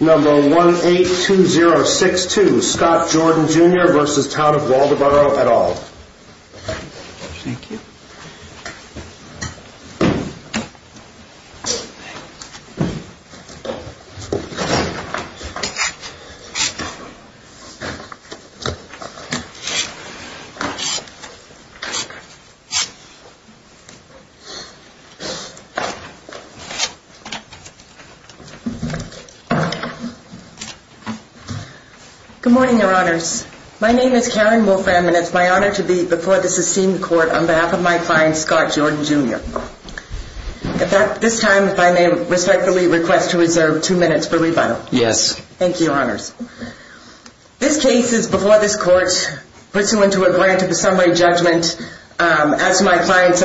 Number 182062 Scott Jordan Jr. v. Town of Waldoboro et al. Good morning, Your Honors. My name is Karen Wolfram and it's my honor to be before the Sistine Court on behalf of my client, Scott Jordan Jr. At this time, if I may respectfully request to reserve two minutes for rebuttal. Yes. Thank you, Your Honors. This case is before this Court pursuant to a grant of a summary judgment as to my client's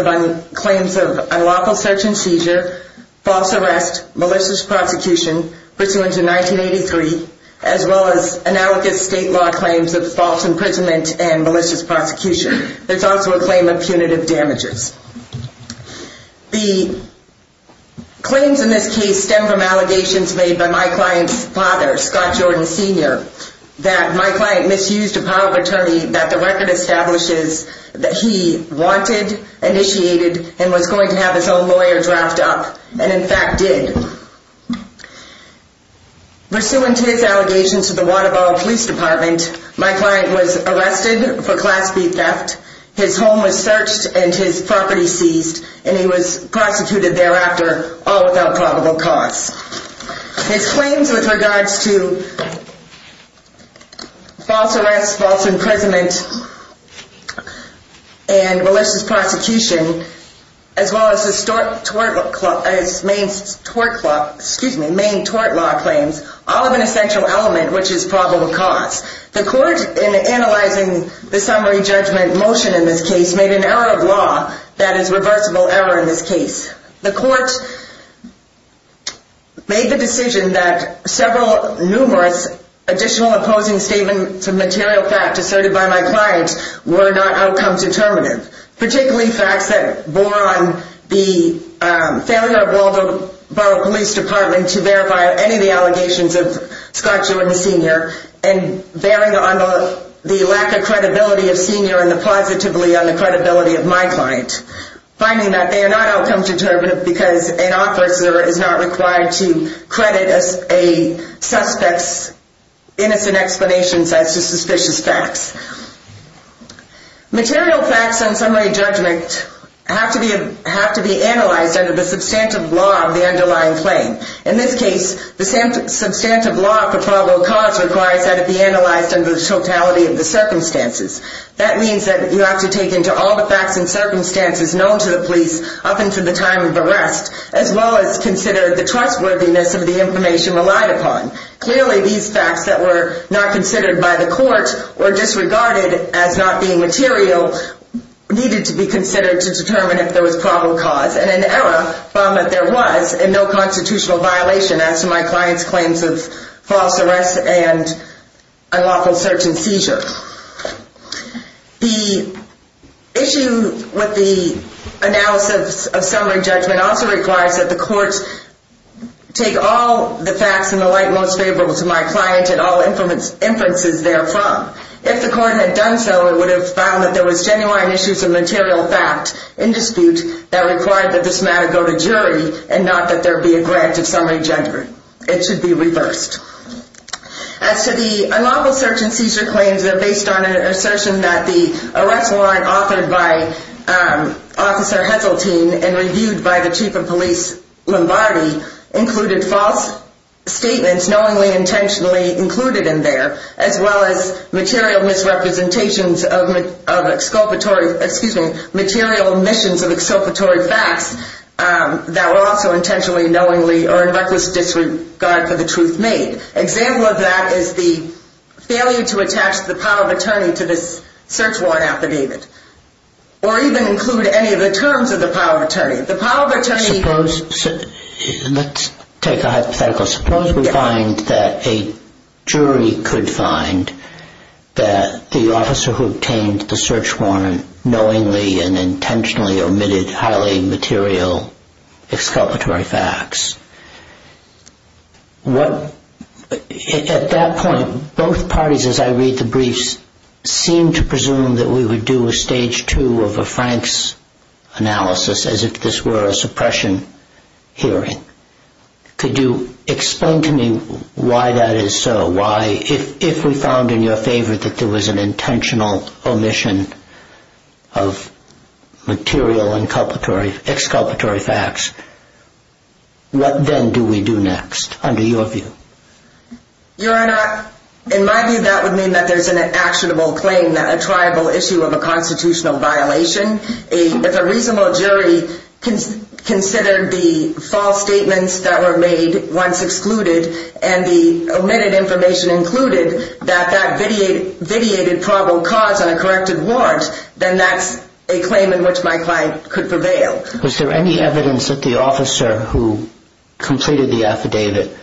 claims of unlawful search and seizure, false arrest, malicious prosecution, pursuant to 1983, as well as analogous state law claims of false imprisonment and malicious prosecution. There's also a claim of punitive damages. The claims in this case stem from allegations made by my client's father, Scott Jordan Sr., that my client misused a power of attorney that the record establishes that he wanted, initiated, and was going to have his own lawyer draft up, and in fact did. Pursuant to his allegations to the Waldoboro Police Department, my client was arrested for class B theft. His home was searched and his property seized, and he was prosecuted thereafter, all without probable cause. His claims with regards to false arrest, false imprisonment, and malicious prosecution, as well as his main tort law claims, all have an essential element, which is probable cause. The Court, in analyzing the summary judgment motion in this case, made an error of law that is reversible error in this case. The Court made the decision that several numerous additional opposing statements of material fact asserted by my client were not outcome determinative, particularly facts that bore on the failure of Waldoboro Police Department to verify any of the allegations of Scott Jordan Sr., and bearing on the lack of credibility of Sr. and positively on the credibility of my client. Finding that they are not outcome determinative because an officer is not required to credit a suspect's innocent explanations as to suspicious facts. Material facts on summary judgment have to be analyzed under the substantive law of the underlying claim. In this case, the substantive law of probable cause requires that it be analyzed under the totality of the circumstances. That means that you have to take into all the facts and circumstances known to the police up until the time of arrest, as well as consider the trustworthiness of the information relied upon. Clearly, these facts that were not considered by the Court, or disregarded as not being material, needed to be considered to determine if there was probable cause, and an error found that there was, and no constitutional violation as to my client's claims of false arrest and unlawful search and seizure. The issue with the analysis of summary judgment also requires that the Court take all the facts in the light most favorable to my client and all inferences therefrom. If the Court had done so, it would have found that there was genuine issues of material fact in dispute that required that this matter go to jury, and not that there be a grant of summary judgment. It should be reversed. As to the unlawful search and seizure claims, they're based on an assertion that the arrest warrant offered by Officer Heseltine, and reviewed by the Chief of Police Lombardi, included false statements knowingly and intentionally included in there, as well as material misrepresentations of exculpatory, excuse me, material omissions of exculpatory facts that were also intentionally knowingly or in reckless disregard for the truth made. Example of that is the failure to attach the power of attorney to this search warrant affidavit, or even include any of the terms of the power of attorney. The power of attorney... Suppose, let's take a hypothetical. Suppose we find that a jury could find that the officer who obtained the search warrant knowingly and intentionally omitted highly material exculpatory facts. At that point, both parties, as I read the briefs, seem to presume that we would do a stage two of a Frank's analysis, as if this were a suppression hearing. Could you explain to me why that is so? Why, if we found in your favor that there was an intentional omission of material exculpatory facts, what then do we do next, under your view? Your Honor, in my view, that would mean that there's an actionable claim, a triable issue of a constitutional violation. If a reasonable jury considered the false statements that were made once excluded, and the omitted information included, that that vitiated probable cause on a corrected warrant, then that's a claim in which my client could prevail. Was there any evidence that the officer who completed the affidavit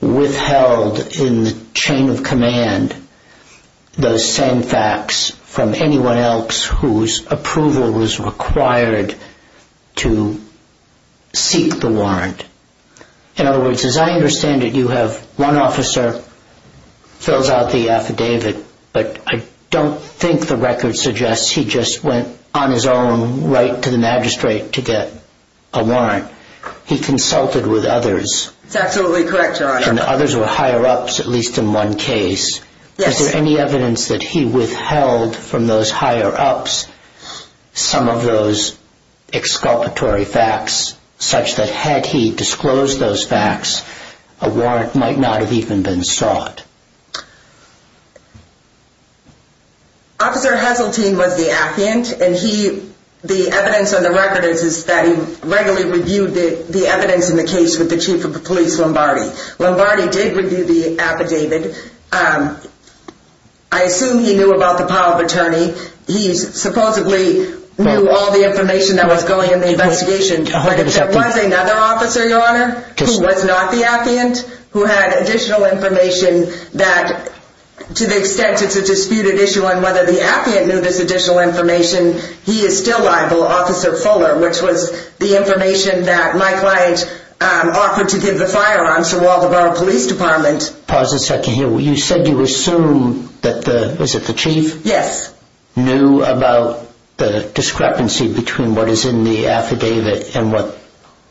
withheld in the chain of command those same facts from anyone else whose approval was required to seek the warrant? In other words, as I understand it, you have one officer fills out the affidavit, but I don't think the record suggests he just went on his own right to the magistrate to get a warrant. He consulted with others. That's absolutely correct, Your Honor. And others were higher ups, at least in one case. Yes. Is there any evidence that he withheld from those higher ups some of those exculpatory facts, such that had he disclosed those facts, a warrant might not have even been sought? Officer Heseltine was the affiant, and the evidence on the record is that he regularly reviewed the evidence in the case with the chief of the police, Lombardi. Lombardi did review the affidavit. I assume he knew about the power of attorney. He supposedly knew all the information that was going in the investigation, but if there was another officer, Your Honor, who was not the affiant, who had additional information that, to the extent it's a disputed issue on whether the affiant knew this additional information, he is still liable, Officer Fuller, which was the information that my client offered to give the firearms to Walthamborough Police Department. Pause a second here. You said you assume that the, is it the chief? Yes. Knew about the discrepancy between what is in the affidavit and what,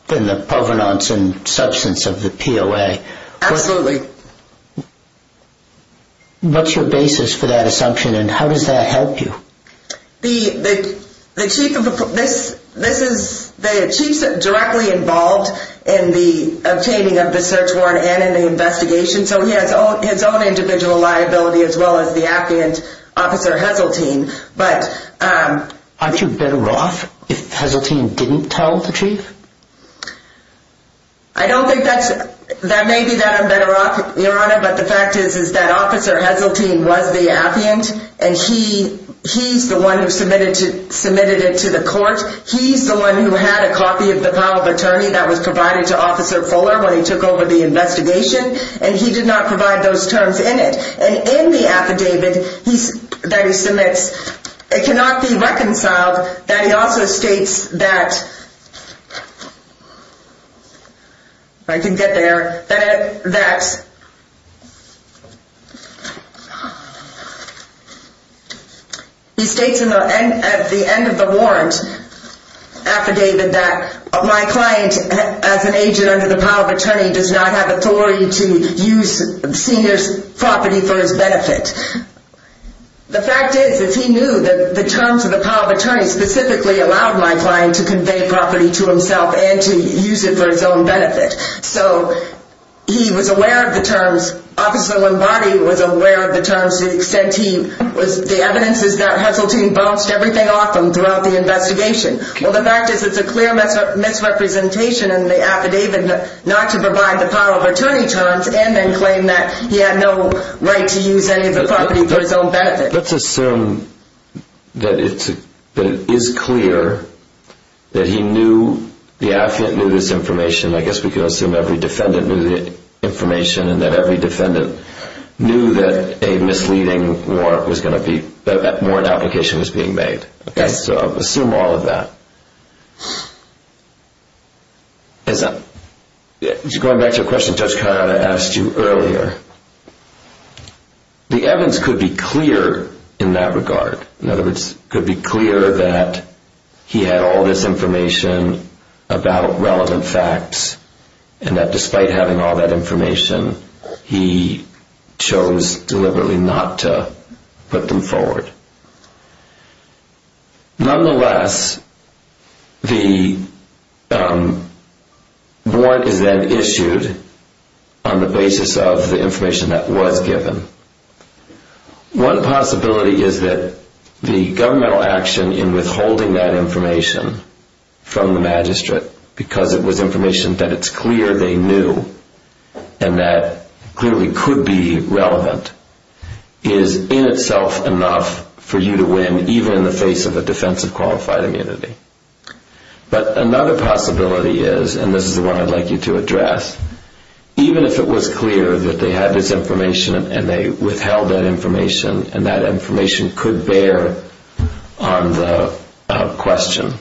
and the provenance and substance of the POA. Absolutely. What's your basis for that assumption, and how does that help you? The, the chief of, this, this is, the chief's directly involved in the obtaining of the search warrant and in the investigation, so he has his own individual liability as well as the affiant, Officer Heseltine, but, um... Aren't you better off if Heseltine didn't tell the chief? I don't think that's, that may be that I'm better off, Your Honor, but the fact is, is that Officer Heseltine was the affiant, and he, he's the one who submitted it to the court. He's the one who had a copy of the power of attorney that was provided to Officer Fuller when he took over the investigation, and he did not provide those terms in it. And in the affidavit, he, that he submits, it cannot be reconciled that he also states that, if I can get there, that, that, he states in the end, at the end of the warrant affidavit that my client, as an agent under the power of attorney, does not have authority to use senior's property for his benefit. The fact is, is he knew that the terms of the power of attorney specifically allowed my client to convey property to himself and to use it for his own benefit. So, he was aware of the terms, Officer Lombardi was aware of the terms to the extent he was, the evidence is that Heseltine bounced everything off him throughout the investigation. Well, the fact is, it's a clear misrepresentation in the affidavit not to provide the power of attorney terms and then claim that he had no right to use any of the property for his own benefit. Let's assume that it's, that it is clear that he knew, the affidavit knew this information, I guess we could assume every defendant knew the information, and that every defendant knew that a misleading warrant was going to be, that warrant application was being made. Okay. So, assume all of that. As I, going back to a question Judge Carotta asked you earlier, the evidence could be clear in that regard, in other words, could be clear that he had all this information about relevant facts and that despite having all that information, he chose deliberately not to put them forward. Nonetheless, the warrant is then issued on the basis of the information that was given. One possibility is that the governmental action in withholding that information from the magistrate because it was information that it's clear they knew and that clearly could be relevant is in itself enough for you to win even in the face of a defense of qualified immunity. But another possibility is, and this is the one I'd like you to address, even if it was clear that they had this information and they withheld that information and that information could bear on the question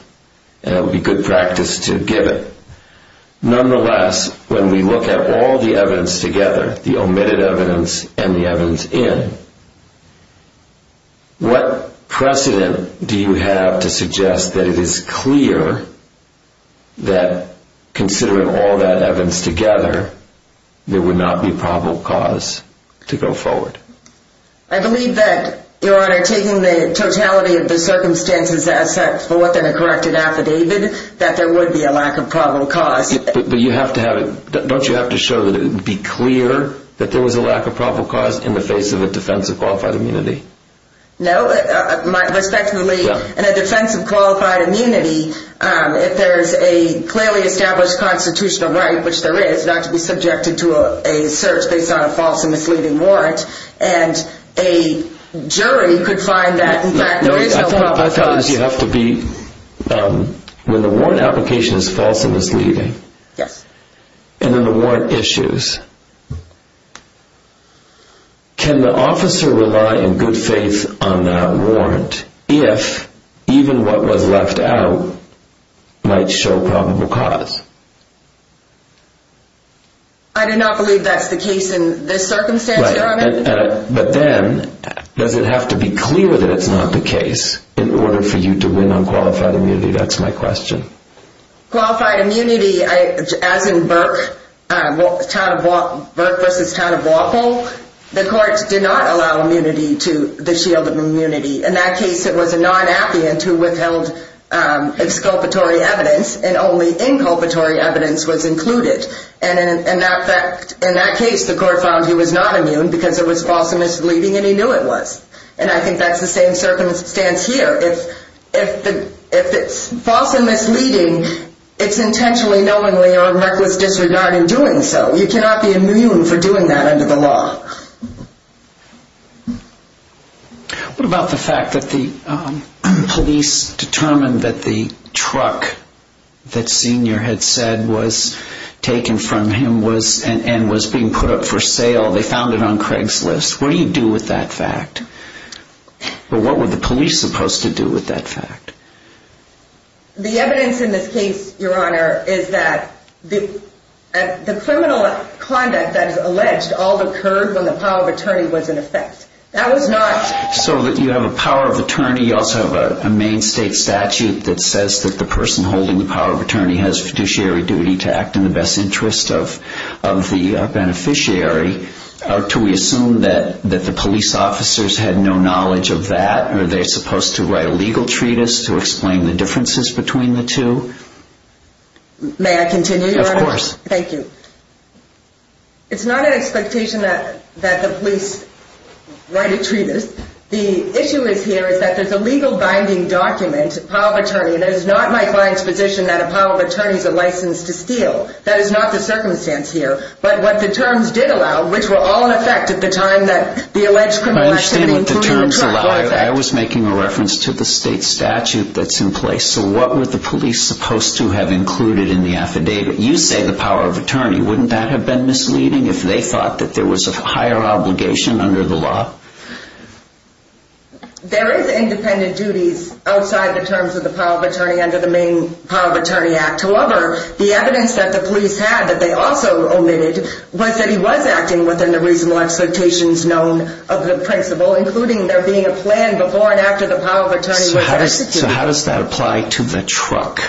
and it would be good practice to give it, nonetheless, when we look at all the evidence together, the omitted evidence and the evidence in, what precedent do you have to suggest that it is clear that considering all that evidence together there would not be probable cause to go forward? I believe that, Your Honor, taking the totality of the circumstances as set forth in a corrected affidavit, that there would be a lack of probable cause. But you have to have it, don't you have to show that it would be clear that there was a lack of probable cause in the face of a defense of qualified immunity? No, respectfully, in a defense of qualified immunity, if there is a clearly established constitutional right, which there is, not to be subjected to a search based on a false and misleading warrant, and a jury could find that in fact there is no probable cause. I thought that you have to be, when the warrant application is false and misleading, and then the warrant issues, can the officer rely in good faith on that warrant if even what was left out might show probable cause? I do not believe that is the case in this circumstance, Your Honor. But then, does it have to be clear that it is not the case in order for you to win on qualified immunity? That is my question. Qualified immunity, as in Burke v. Town of Wapol, the courts did not allow immunity to the shield of immunity. In that case it was a non-appiant who withheld exculpatory evidence and only inculpatory evidence was included. In that case the court found he was not immune because it was false and misleading and he knew it was. And I think that is the same circumstance here. If it is false and misleading, it is intentionally, knowingly, or a reckless disregard in doing so. You cannot be immune for doing that under the law. What about the fact that the police determined that the truck that Senior had said was taken from him and was being put up for sale, they found it on Craigslist? What do you do with that fact? What were the police supposed to do with that fact? The evidence in this case, Your Honor, is that the criminal conduct that is alleged all occurred when the power of attorney was in effect. That was not... So you have a power of attorney, you also have a main state statute that says that the criminal conduct of the truck was not in effect. Do we assume that the police officers had no knowledge of that? Are they supposed to write a legal treatise to explain the differences between the two? May I continue, Your Honor? Of course. Thank you. It is not an expectation that the police write a treatise. The issue is here is that there is a legal binding document, a power of attorney, and it is not my client's position that a power of attorney is a license to steal. That is not the circumstance here. But what the terms did allow, which were all in effect at the time that the alleged criminal activity occurred... I understand what the terms allowed. I was making a reference to the state statute that is in place. So what were the police supposed to have included in the affidavit? You say the power of attorney. Wouldn't that have been misleading if they thought that there was a higher obligation under the law? There is independent duties outside the terms of the power of attorney under the main power of attorney act. However, the evidence that the police had that they also omitted was that he was acting within the reasonable expectations known of the principal, including there being a plan before and after the power of attorney was executed. So how does that apply to the truck?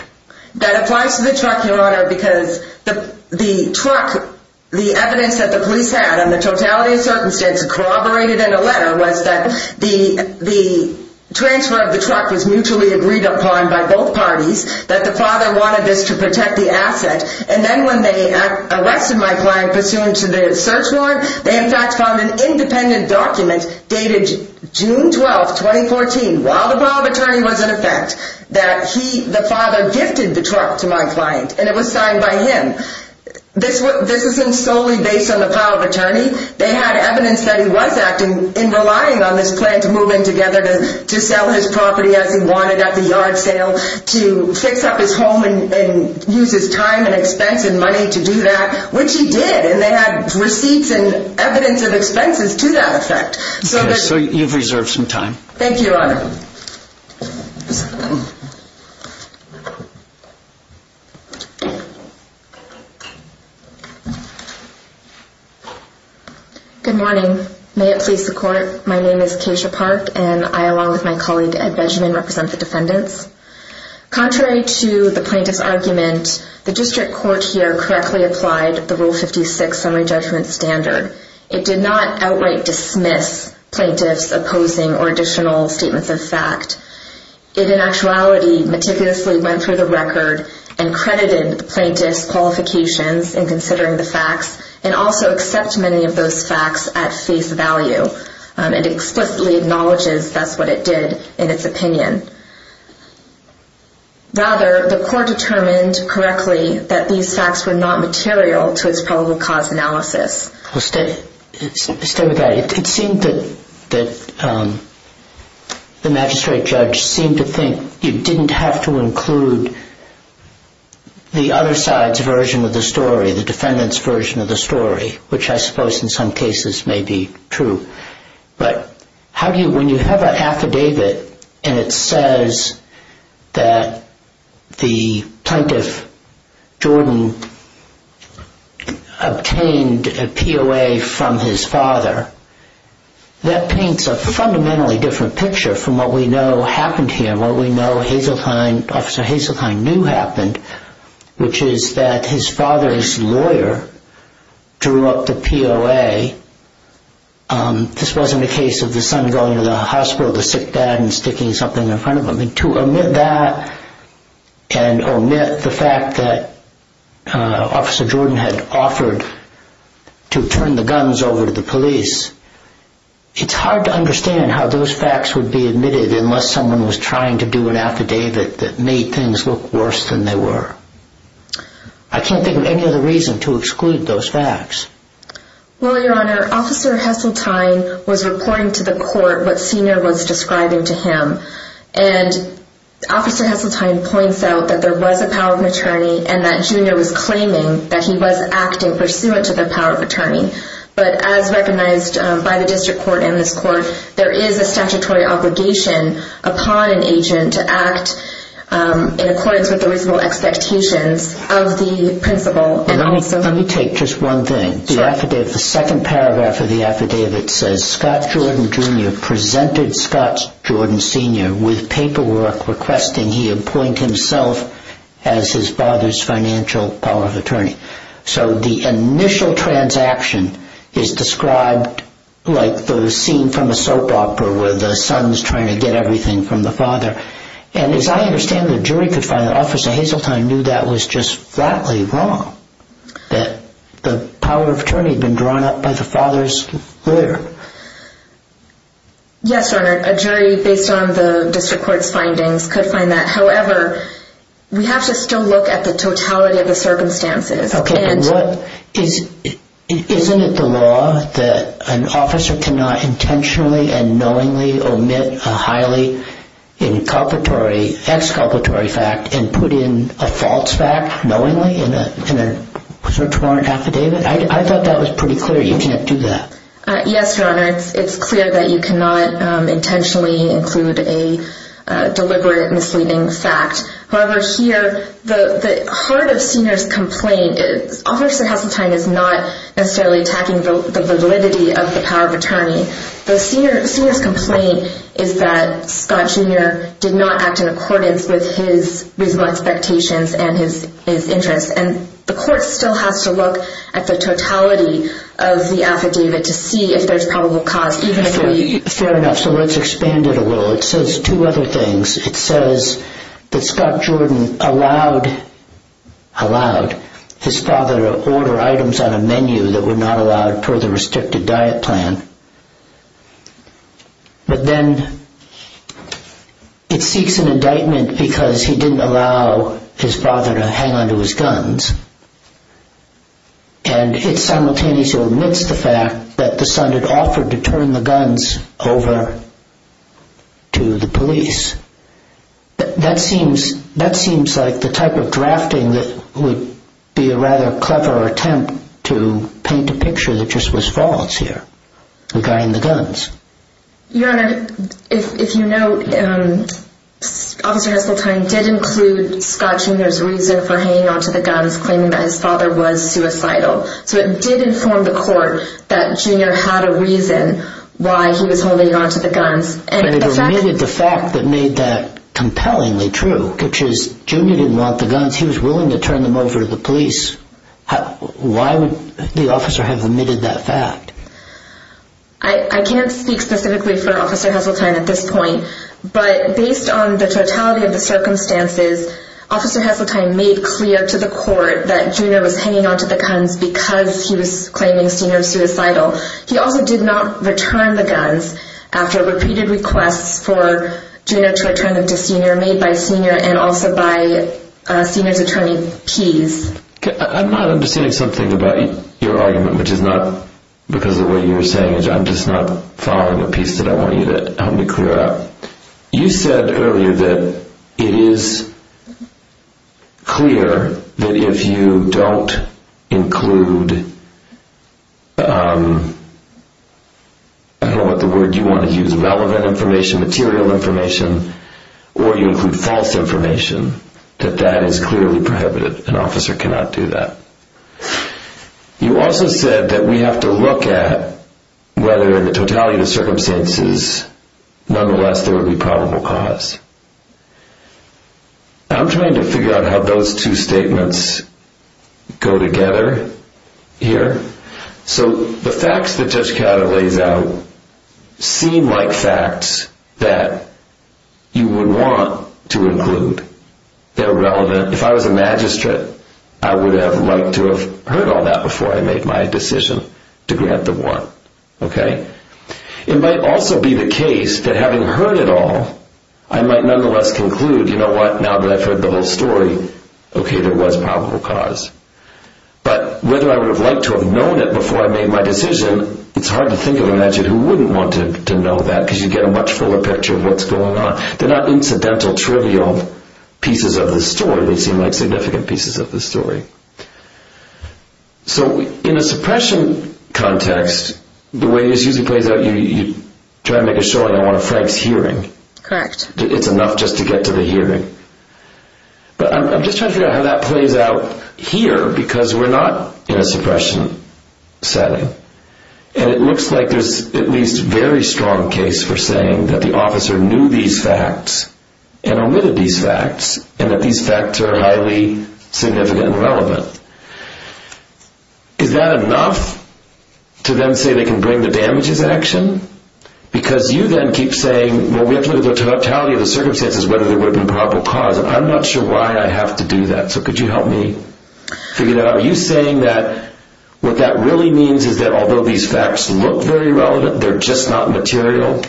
That applies to the truck, Your Honor, because the truck, the evidence that the police had and the totality of circumstance corroborated in a letter was that the transfer of the truck was mutually agreed upon by both parties, that the father wanted this to protect the asset. And then when they arrested my client pursuant to the search warrant, they in fact found an independent document dated June 12, 2014, while the power of attorney was in effect, that the father gifted the truck to my client and it was signed by him. This isn't solely based on the power of attorney. They had evidence that he was acting in relying on this plan to move in together to sell his property as he wanted at the yard sale, to fix up his home and use his time and expense and money to do that, which he did. And they had receipts and evidence of expenses to that effect. So you've reserved some time. Thank you, Your Honor. Good morning. May it please the Court, my name is Kasia Park and I, along with my colleague Ed Vegeman, represent the defendants. Contrary to the plaintiff's argument, the district court here correctly applied the Rule 56 summary judgment standard. It did not outright dismiss plaintiff's opposing or additional statements of fact. It in actuality meticulously went through the record and credited the plaintiff's qualifications in considering the facts and also accept many of those facts at face value. It explicitly acknowledges that's what it did in its opinion. Rather, the court determined correctly that these facts were not material to its probable cause analysis. Stay with that. It seemed that the magistrate judge seemed to think you didn't have to include the other side's version of the story, the defendant's version of the story, which I suppose in some cases may be true. But when you have an affidavit and it says that the plaintiff, Jordan, obtained a POA from his father, that paints a fundamentally different picture from what we know happened here, what we know Officer Hazeltine knew happened, which is that his father's lawyer drew up the POA. This wasn't a case of the son going to the hospital, the sick dad, and sticking something in front of him. To omit that and omit the fact that Officer Jordan had offered to turn the guns over to the police, it's hard to be admitted unless someone was trying to do an affidavit that made things look worse than they were. I can't think of any other reason to exclude those facts. Well, Your Honor, Officer Hazeltine was reporting to the court what Senior was describing to him. And Officer Hazeltine points out that there was a power of attorney and that Junior was claiming that he was acting pursuant to the power of attorney. But as recognized by the district court and this court, there is a statutory obligation upon an agent to act in accordance with the reasonable expectations of the principal. And let me take just one thing. The second paragraph of the affidavit says Scott Jordan Jr. presented Scott Jordan Sr. with paperwork requesting he appoint himself as his father's financial power of attorney. So the initial transaction is described like the scene from a soap opera where the son is trying to get everything from the father. And as I understand the jury could find that Officer Hazeltine knew that was just flatly wrong. That the power of attorney had been drawn up by the father's lawyer. Yes, Your Honor. A jury based on the district court's findings could find that. However, we have to still look at the totality of the circumstances. Okay. Isn't it the law that an officer cannot intentionally and knowingly omit a highly inculpatory, exculpatory fact and put in a false fact knowingly in a search warrant affidavit? I thought that was pretty clear. You can't do that. Yes, Your Honor. It's clear that you cannot intentionally include a deliberate misleading fact. However, here the heart of Senior's complaint is Officer Hazeltine is not necessarily attacking the validity of the power of attorney. The Senior's complaint is that Scott Jr. did not act in accordance with his reasonable expectations and his interests. And the court still has to look at the totality of the affidavit to see if there's probable cause. Fair enough. So let's expand it a little. It says two other things. It says that Scott Jordan allowed, allowed his father to order items on a menu that were not allowed per the restricted diet plan. But then it seeks an indictment because he didn't allow his father to hang onto his guns. And it simultaneously omits the fact that the son had offered to turn the guns over to the police. That seems, that seems like the type of drafting that would be a rather clever attempt to paint a picture that just was false here regarding the guns. Your Honor, if you note, Officer Hazeltine did include Scott Jr.'s reason for hanging onto the guns, claiming that his father was suicidal. So it did inform the court that Junior had a reason why he was holding onto the guns. And it omitted the fact that made that compellingly true, which is Junior didn't want the guns. He was willing to turn them over to the police. Why would the officer have omitted that fact? I can't speak specifically for Officer Hazeltine at this point, but based on the totality of the circumstances, Officer Hazeltine made clear to the court that Junior was hanging onto the guns because he was claiming Senior was suicidal. He also did not return the guns after repeated requests for Junior to return them to Senior made by Senior and also by Senior's attorney, Pease. I'm not understanding something about your argument, which is not because of what you were saying. I'm just not following a piece that I want you to help me clear up. You said earlier that it is clear that if you don't include, I don't know what the word you want to use, relevant information, material information, or you include false information, that that is clearly prohibited. An officer cannot do that. You also said that we have to look at whether in the totality of the circumstances, nonetheless, there would be probable cause. I'm trying to figure out how those two statements go together here. So the facts that Judge Catter lays out seem like facts that you would want to include. They're relevant. If I was a magistrate, I would have liked to have heard all that before I made my decision to grant the warrant. It might also be the case that having heard it all, I might nonetheless conclude, you know what, now that I've heard the whole story, okay, there was probable cause. But whether I would have liked to have known it before I made my decision, it's hard to think of a magistrate who wouldn't want to know that because you get a much fuller picture of what's going on. They're not incidental, trivial pieces of the story. They seem like the way this usually plays out, you try to make a showing, I want a Frank's hearing. It's enough just to get to the hearing. But I'm just trying to figure out how that plays out here because we're not in a suppression setting. And it looks like there's at least a very strong case for saying that the officer knew these facts and omitted these facts and that these facts are highly significant and relevant. Is that enough to then say they can bring the damages action? Because you then keep saying, well, we have to look at the totality of the circumstances whether there would have been probable cause. I'm not sure why I have to do that. So could you help me figure that out? Are you saying that what that really means is that although these facts look very relevant, they're just not to include them,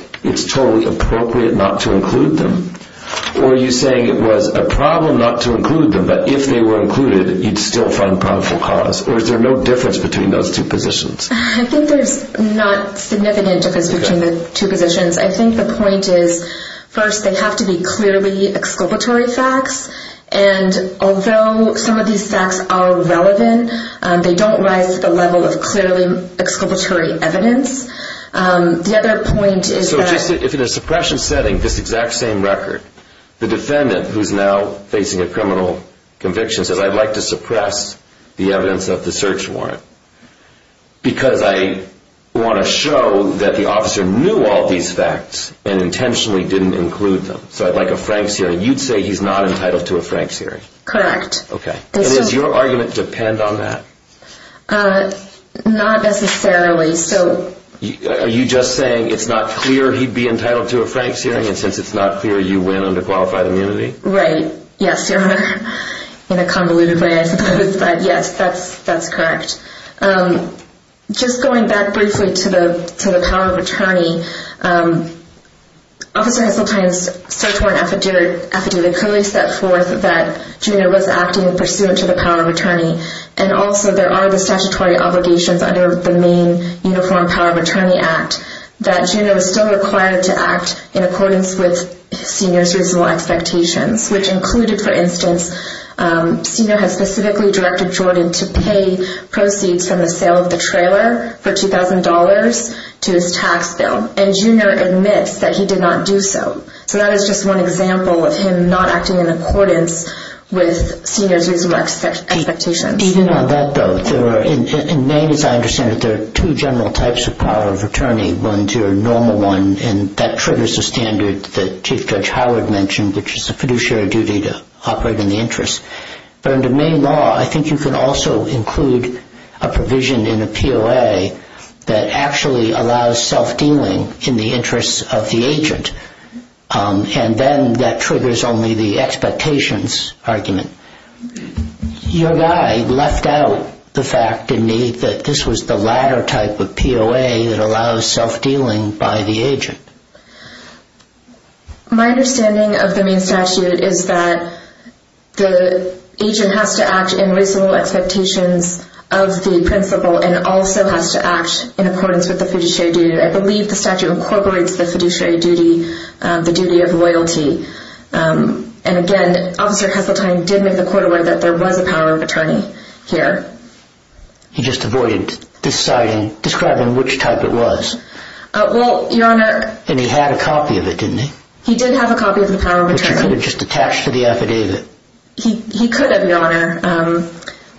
but if they were included, you'd still find probable cause or is there no difference between those two positions? I think there's not significant difference between the two positions. I think the point is first, they have to be clearly exculpatory facts. And although some of these facts are relevant, they don't rise to the level of clearly exculpatory evidence. The other point is that if it is suppression setting, this criminal conviction says I'd like to suppress the evidence of the search warrant because I want to show that the officer knew all these facts and intentionally didn't include them. So I'd like a Frank's hearing. You'd say he's not entitled to a Frank's hearing? Correct. Does your argument depend on that? Not necessarily. Are you just saying it's not clear he'd be entitled to a Frank's hearing and since it's not clear, you win under qualified immunity? Right. Yes. In a convoluted way, I suppose, but yes, that's correct. Just going back briefly to the power of attorney, officer has sometimes search warrant affidavit clearly set forth that Junior was acting pursuant to the power of attorney and also there are the statutory obligations under the main uniform power of attorney act that Junior was still required to act in accordance with Senior's reasonable expectations which included, for instance, Senior has specifically directed Jordan to pay proceeds from the sale of the trailer for $2,000 to his tax bill and Junior admits that he did not do so. So that is just one example of him not acting in accordance with Senior's reasonable expectations. Even on that note, in Maine, as I understand it, there are two general types of power of attorney. One is your normal one and that triggers the standard that Chief Judge Howard mentioned, which is a fiduciary duty to operate in the interest. But under Maine law, I think you can also include a provision in a POA that actually allows self-dealing in the interest of the agent. And then that triggers only the expectations argument. Your guide left out the fact, indeed, that this was the latter type of POA that allows self-dealing by the agent. My understanding of the Maine statute is that the agent has to act in reasonable expectations of the principal and also has to act in accordance with the fiduciary duty. I believe the statute incorporates the fiduciary duty, the duty of loyalty. And again, Officer Heseltine did make the court aware that there was a power of attorney here. He just avoided describing which type it was. Well, Your Honor... And he had a copy of it, didn't he? He did have a copy of the power of attorney. But you could have just attached to the affidavit. He could have, Your Honor,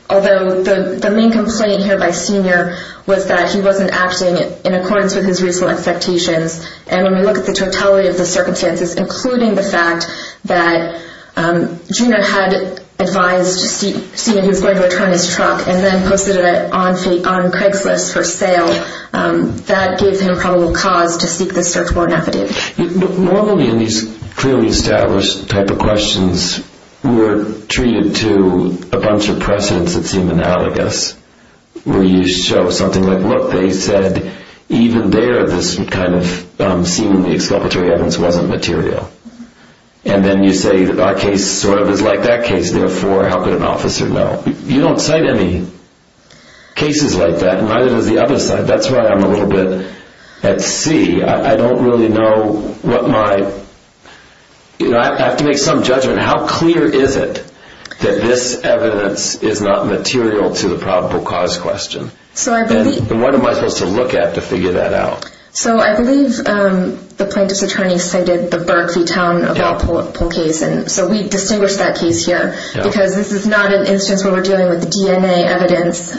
although the main complaint here by Senior was that he wasn't acting in accordance with his reasonable expectations. And when we look at the totality of the circumstances, including the fact that Junior had advised Senior he was going to return his truck and then posted it on Craigslist for sale, that gave him probable cause to seek the search warrant affidavit. Normally in these clearly established type of questions, we're treated to a bunch of precedents that seem analogous, where you show something like, look, they said even there this seemingly exculpatory evidence wasn't material. And then you say our case sort of is like that case, therefore how could an officer know? You don't cite any cases like that, and neither does the other side. That's why I'm a little bit at sea. I don't really know what my... I have to make some judgment. How clear is it that this evidence is not material to the probable cause question? And what am I supposed to look at to figure that out? So I believe the plaintiff's attorney cited the Berkley town of Walpole case. So we distinguish that case here, because this is not an instance where we're dealing with DNA evidence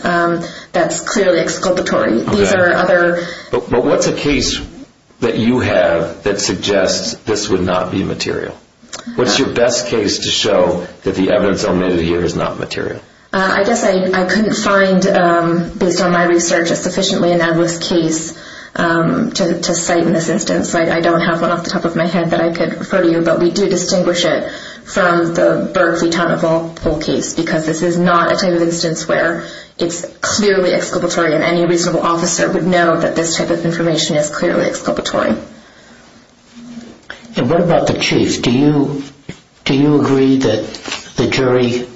that's clearly exculpatory. But what's a case that you have that suggests this would not be material? What's your best case to show that the evidence omitted here is not material? I guess I couldn't find, based on my research, a sufficiently analogous case to cite in this instance. I don't have one off the top of my head that I could refer to you, but we do distinguish it from the Berkley town of Walpole case, because this is not a type of instance where it's clearly exculpatory, and any reasonable officer would know that this type of information is clearly exculpatory. And what about the chief? Do you agree that the jury...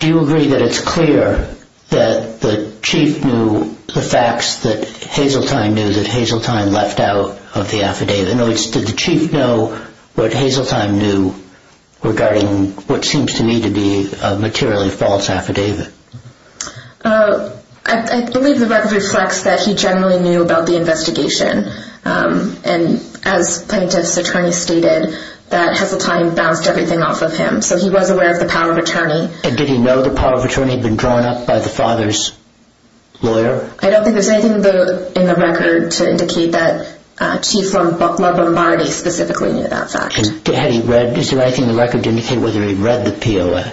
Do you agree that it's clear that the chief knew the facts that Hazeltine knew that Hazeltine left out of the affidavit? In other words, did the chief know what Hazeltine knew regarding what seems to me to be a materially false affidavit? I believe the record reflects that he generally knew about the investigation, and as plaintiff's attorney stated, that Hazeltine bounced everything off of him. So he was aware of the power of attorney. And did he know the power of attorney had been drawn up by the father's lawyer? I don't think there's anything in the record to indicate that Chief Lombardi specifically knew that fact. Is there anything in the record to indicate whether he read the POA?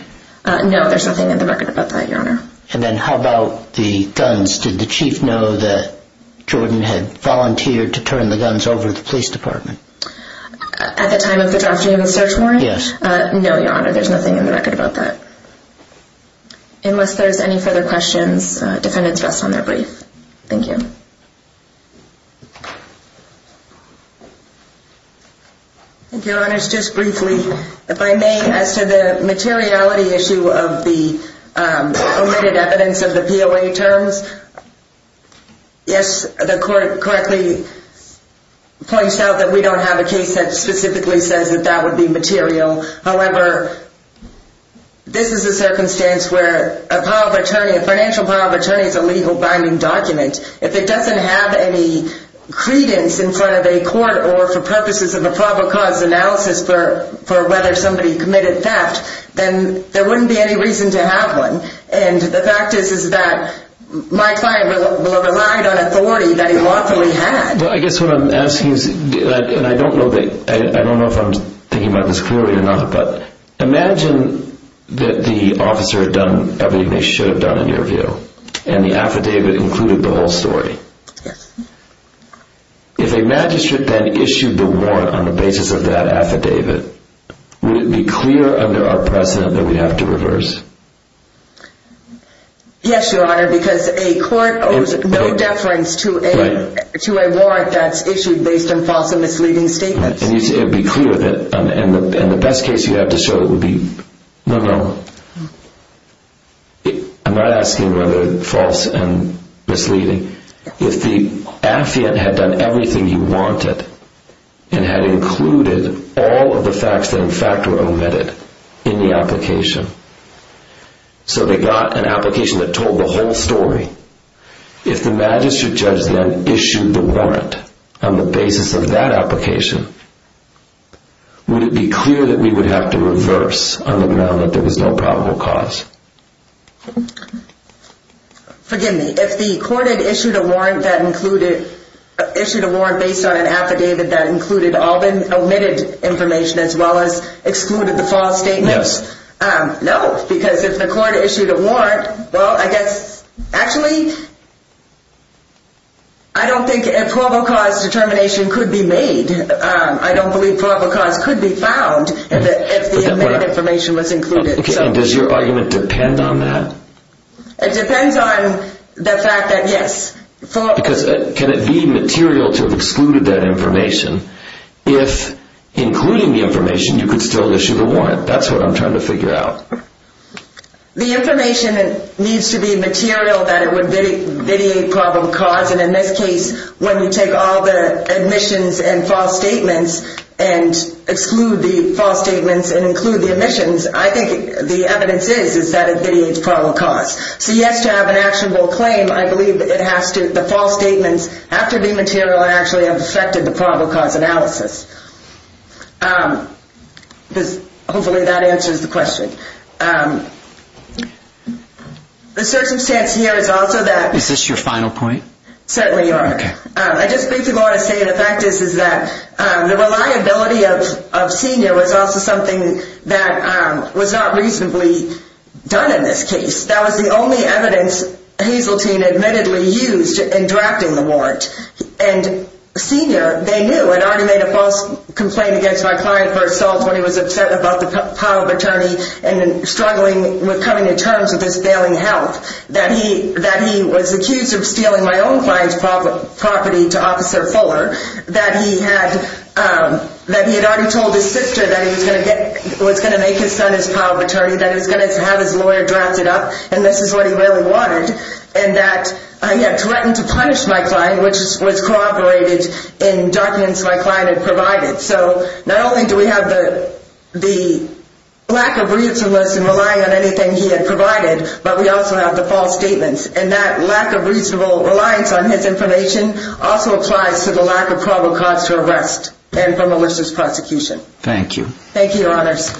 No, there's nothing in the record about that, Your Honor. And then how about the guns? Did the chief know that Jordan had volunteered to turn the guns over to the police department? At the time of the drafting of the search warrant? Yes. No, Your Honor, there's nothing in the record about that. Unless there's any further questions, defendants rest on their brief. Thank you. Thank you, Your Honor. Just briefly, if I may, as to the materiality issue of the omitted evidence of the POA terms, yes, the court correctly points out that we don't have a case that specifically says that that would be material. However, this is a circumstance where a financial power of attorney is a legal binding document. If it doesn't have any credence in front of a court or for purposes of a probable cause analysis for whether somebody committed theft, then there wouldn't be any reason to have one. And the fact is that my client relied on authority that he lawfully had. I guess what I'm asking is, and I don't know if I'm thinking about this clearly or not, but imagine that the officer had done everything they should have done, in your view, and the affidavit included the whole story. Yes. If a magistrate then issued the warrant on the basis of that affidavit, would it be clear under our precedent that we'd have to reverse? Yes, Your Honor, because a court owes no deference to a warrant that's issued based on false and misleading statements. It would be clear, and the best case you'd have to show it would be... No, no. I'm not asking whether false and misleading. If the affiant had done everything he wanted and had included all of the facts that in fact were omitted in the application, so they got an application that told the whole story, if the magistrate judge then issued the warrant on the basis of that application, would it be clear that we would have to reverse on the ground that there was no probable cause? Forgive me. If the court had issued a warrant based on an affidavit that included all the omitted information as well as excluded the false statements? Yes. No, because if the court issued a warrant, well, I guess... I don't believe probable cause could be found if the omitted information was included. Does your argument depend on that? It depends on the fact that, yes. Because can it be material to have excluded that information if, including the information, you could still issue the warrant? That's what I'm trying to figure out. The information needs to be material that it would vitiate probable cause, and in this case, when you take all the omissions and false statements and exclude the false statements and include the omissions, I think the evidence is that it vitiates probable cause. So, yes, to have an actionable claim, I believe the false statements have to be material and actually have affected the probable cause analysis. Hopefully that answers the question. The circumstance here is also that... Is this your final point? Certainly, Your Honor. Okay. I just think you ought to say the fact is that the reliability of Senior was also something that was not reasonably done in this case. That was the only evidence Hazeltine admittedly used in drafting the warrant. And Senior, they knew. I'd already made a false complaint against my client for assault when he was upset about the public attorney struggling with coming to terms with his failing health. That he was accused of stealing my own client's property to Officer Fuller. That he had already told his sister that he was going to make his son his power of attorney, that he was going to have his lawyer draft it up, and this is what he really wanted. And that he had threatened to punish my client, which was cooperated in documents my client had provided. So not only do we have the lack of reasonless in relying on anything he had provided, but we also have the false statements. And that lack of reasonable reliance on his information also applies to the lack of probable cause to arrest and for malicious prosecution. Thank you, Your Honors.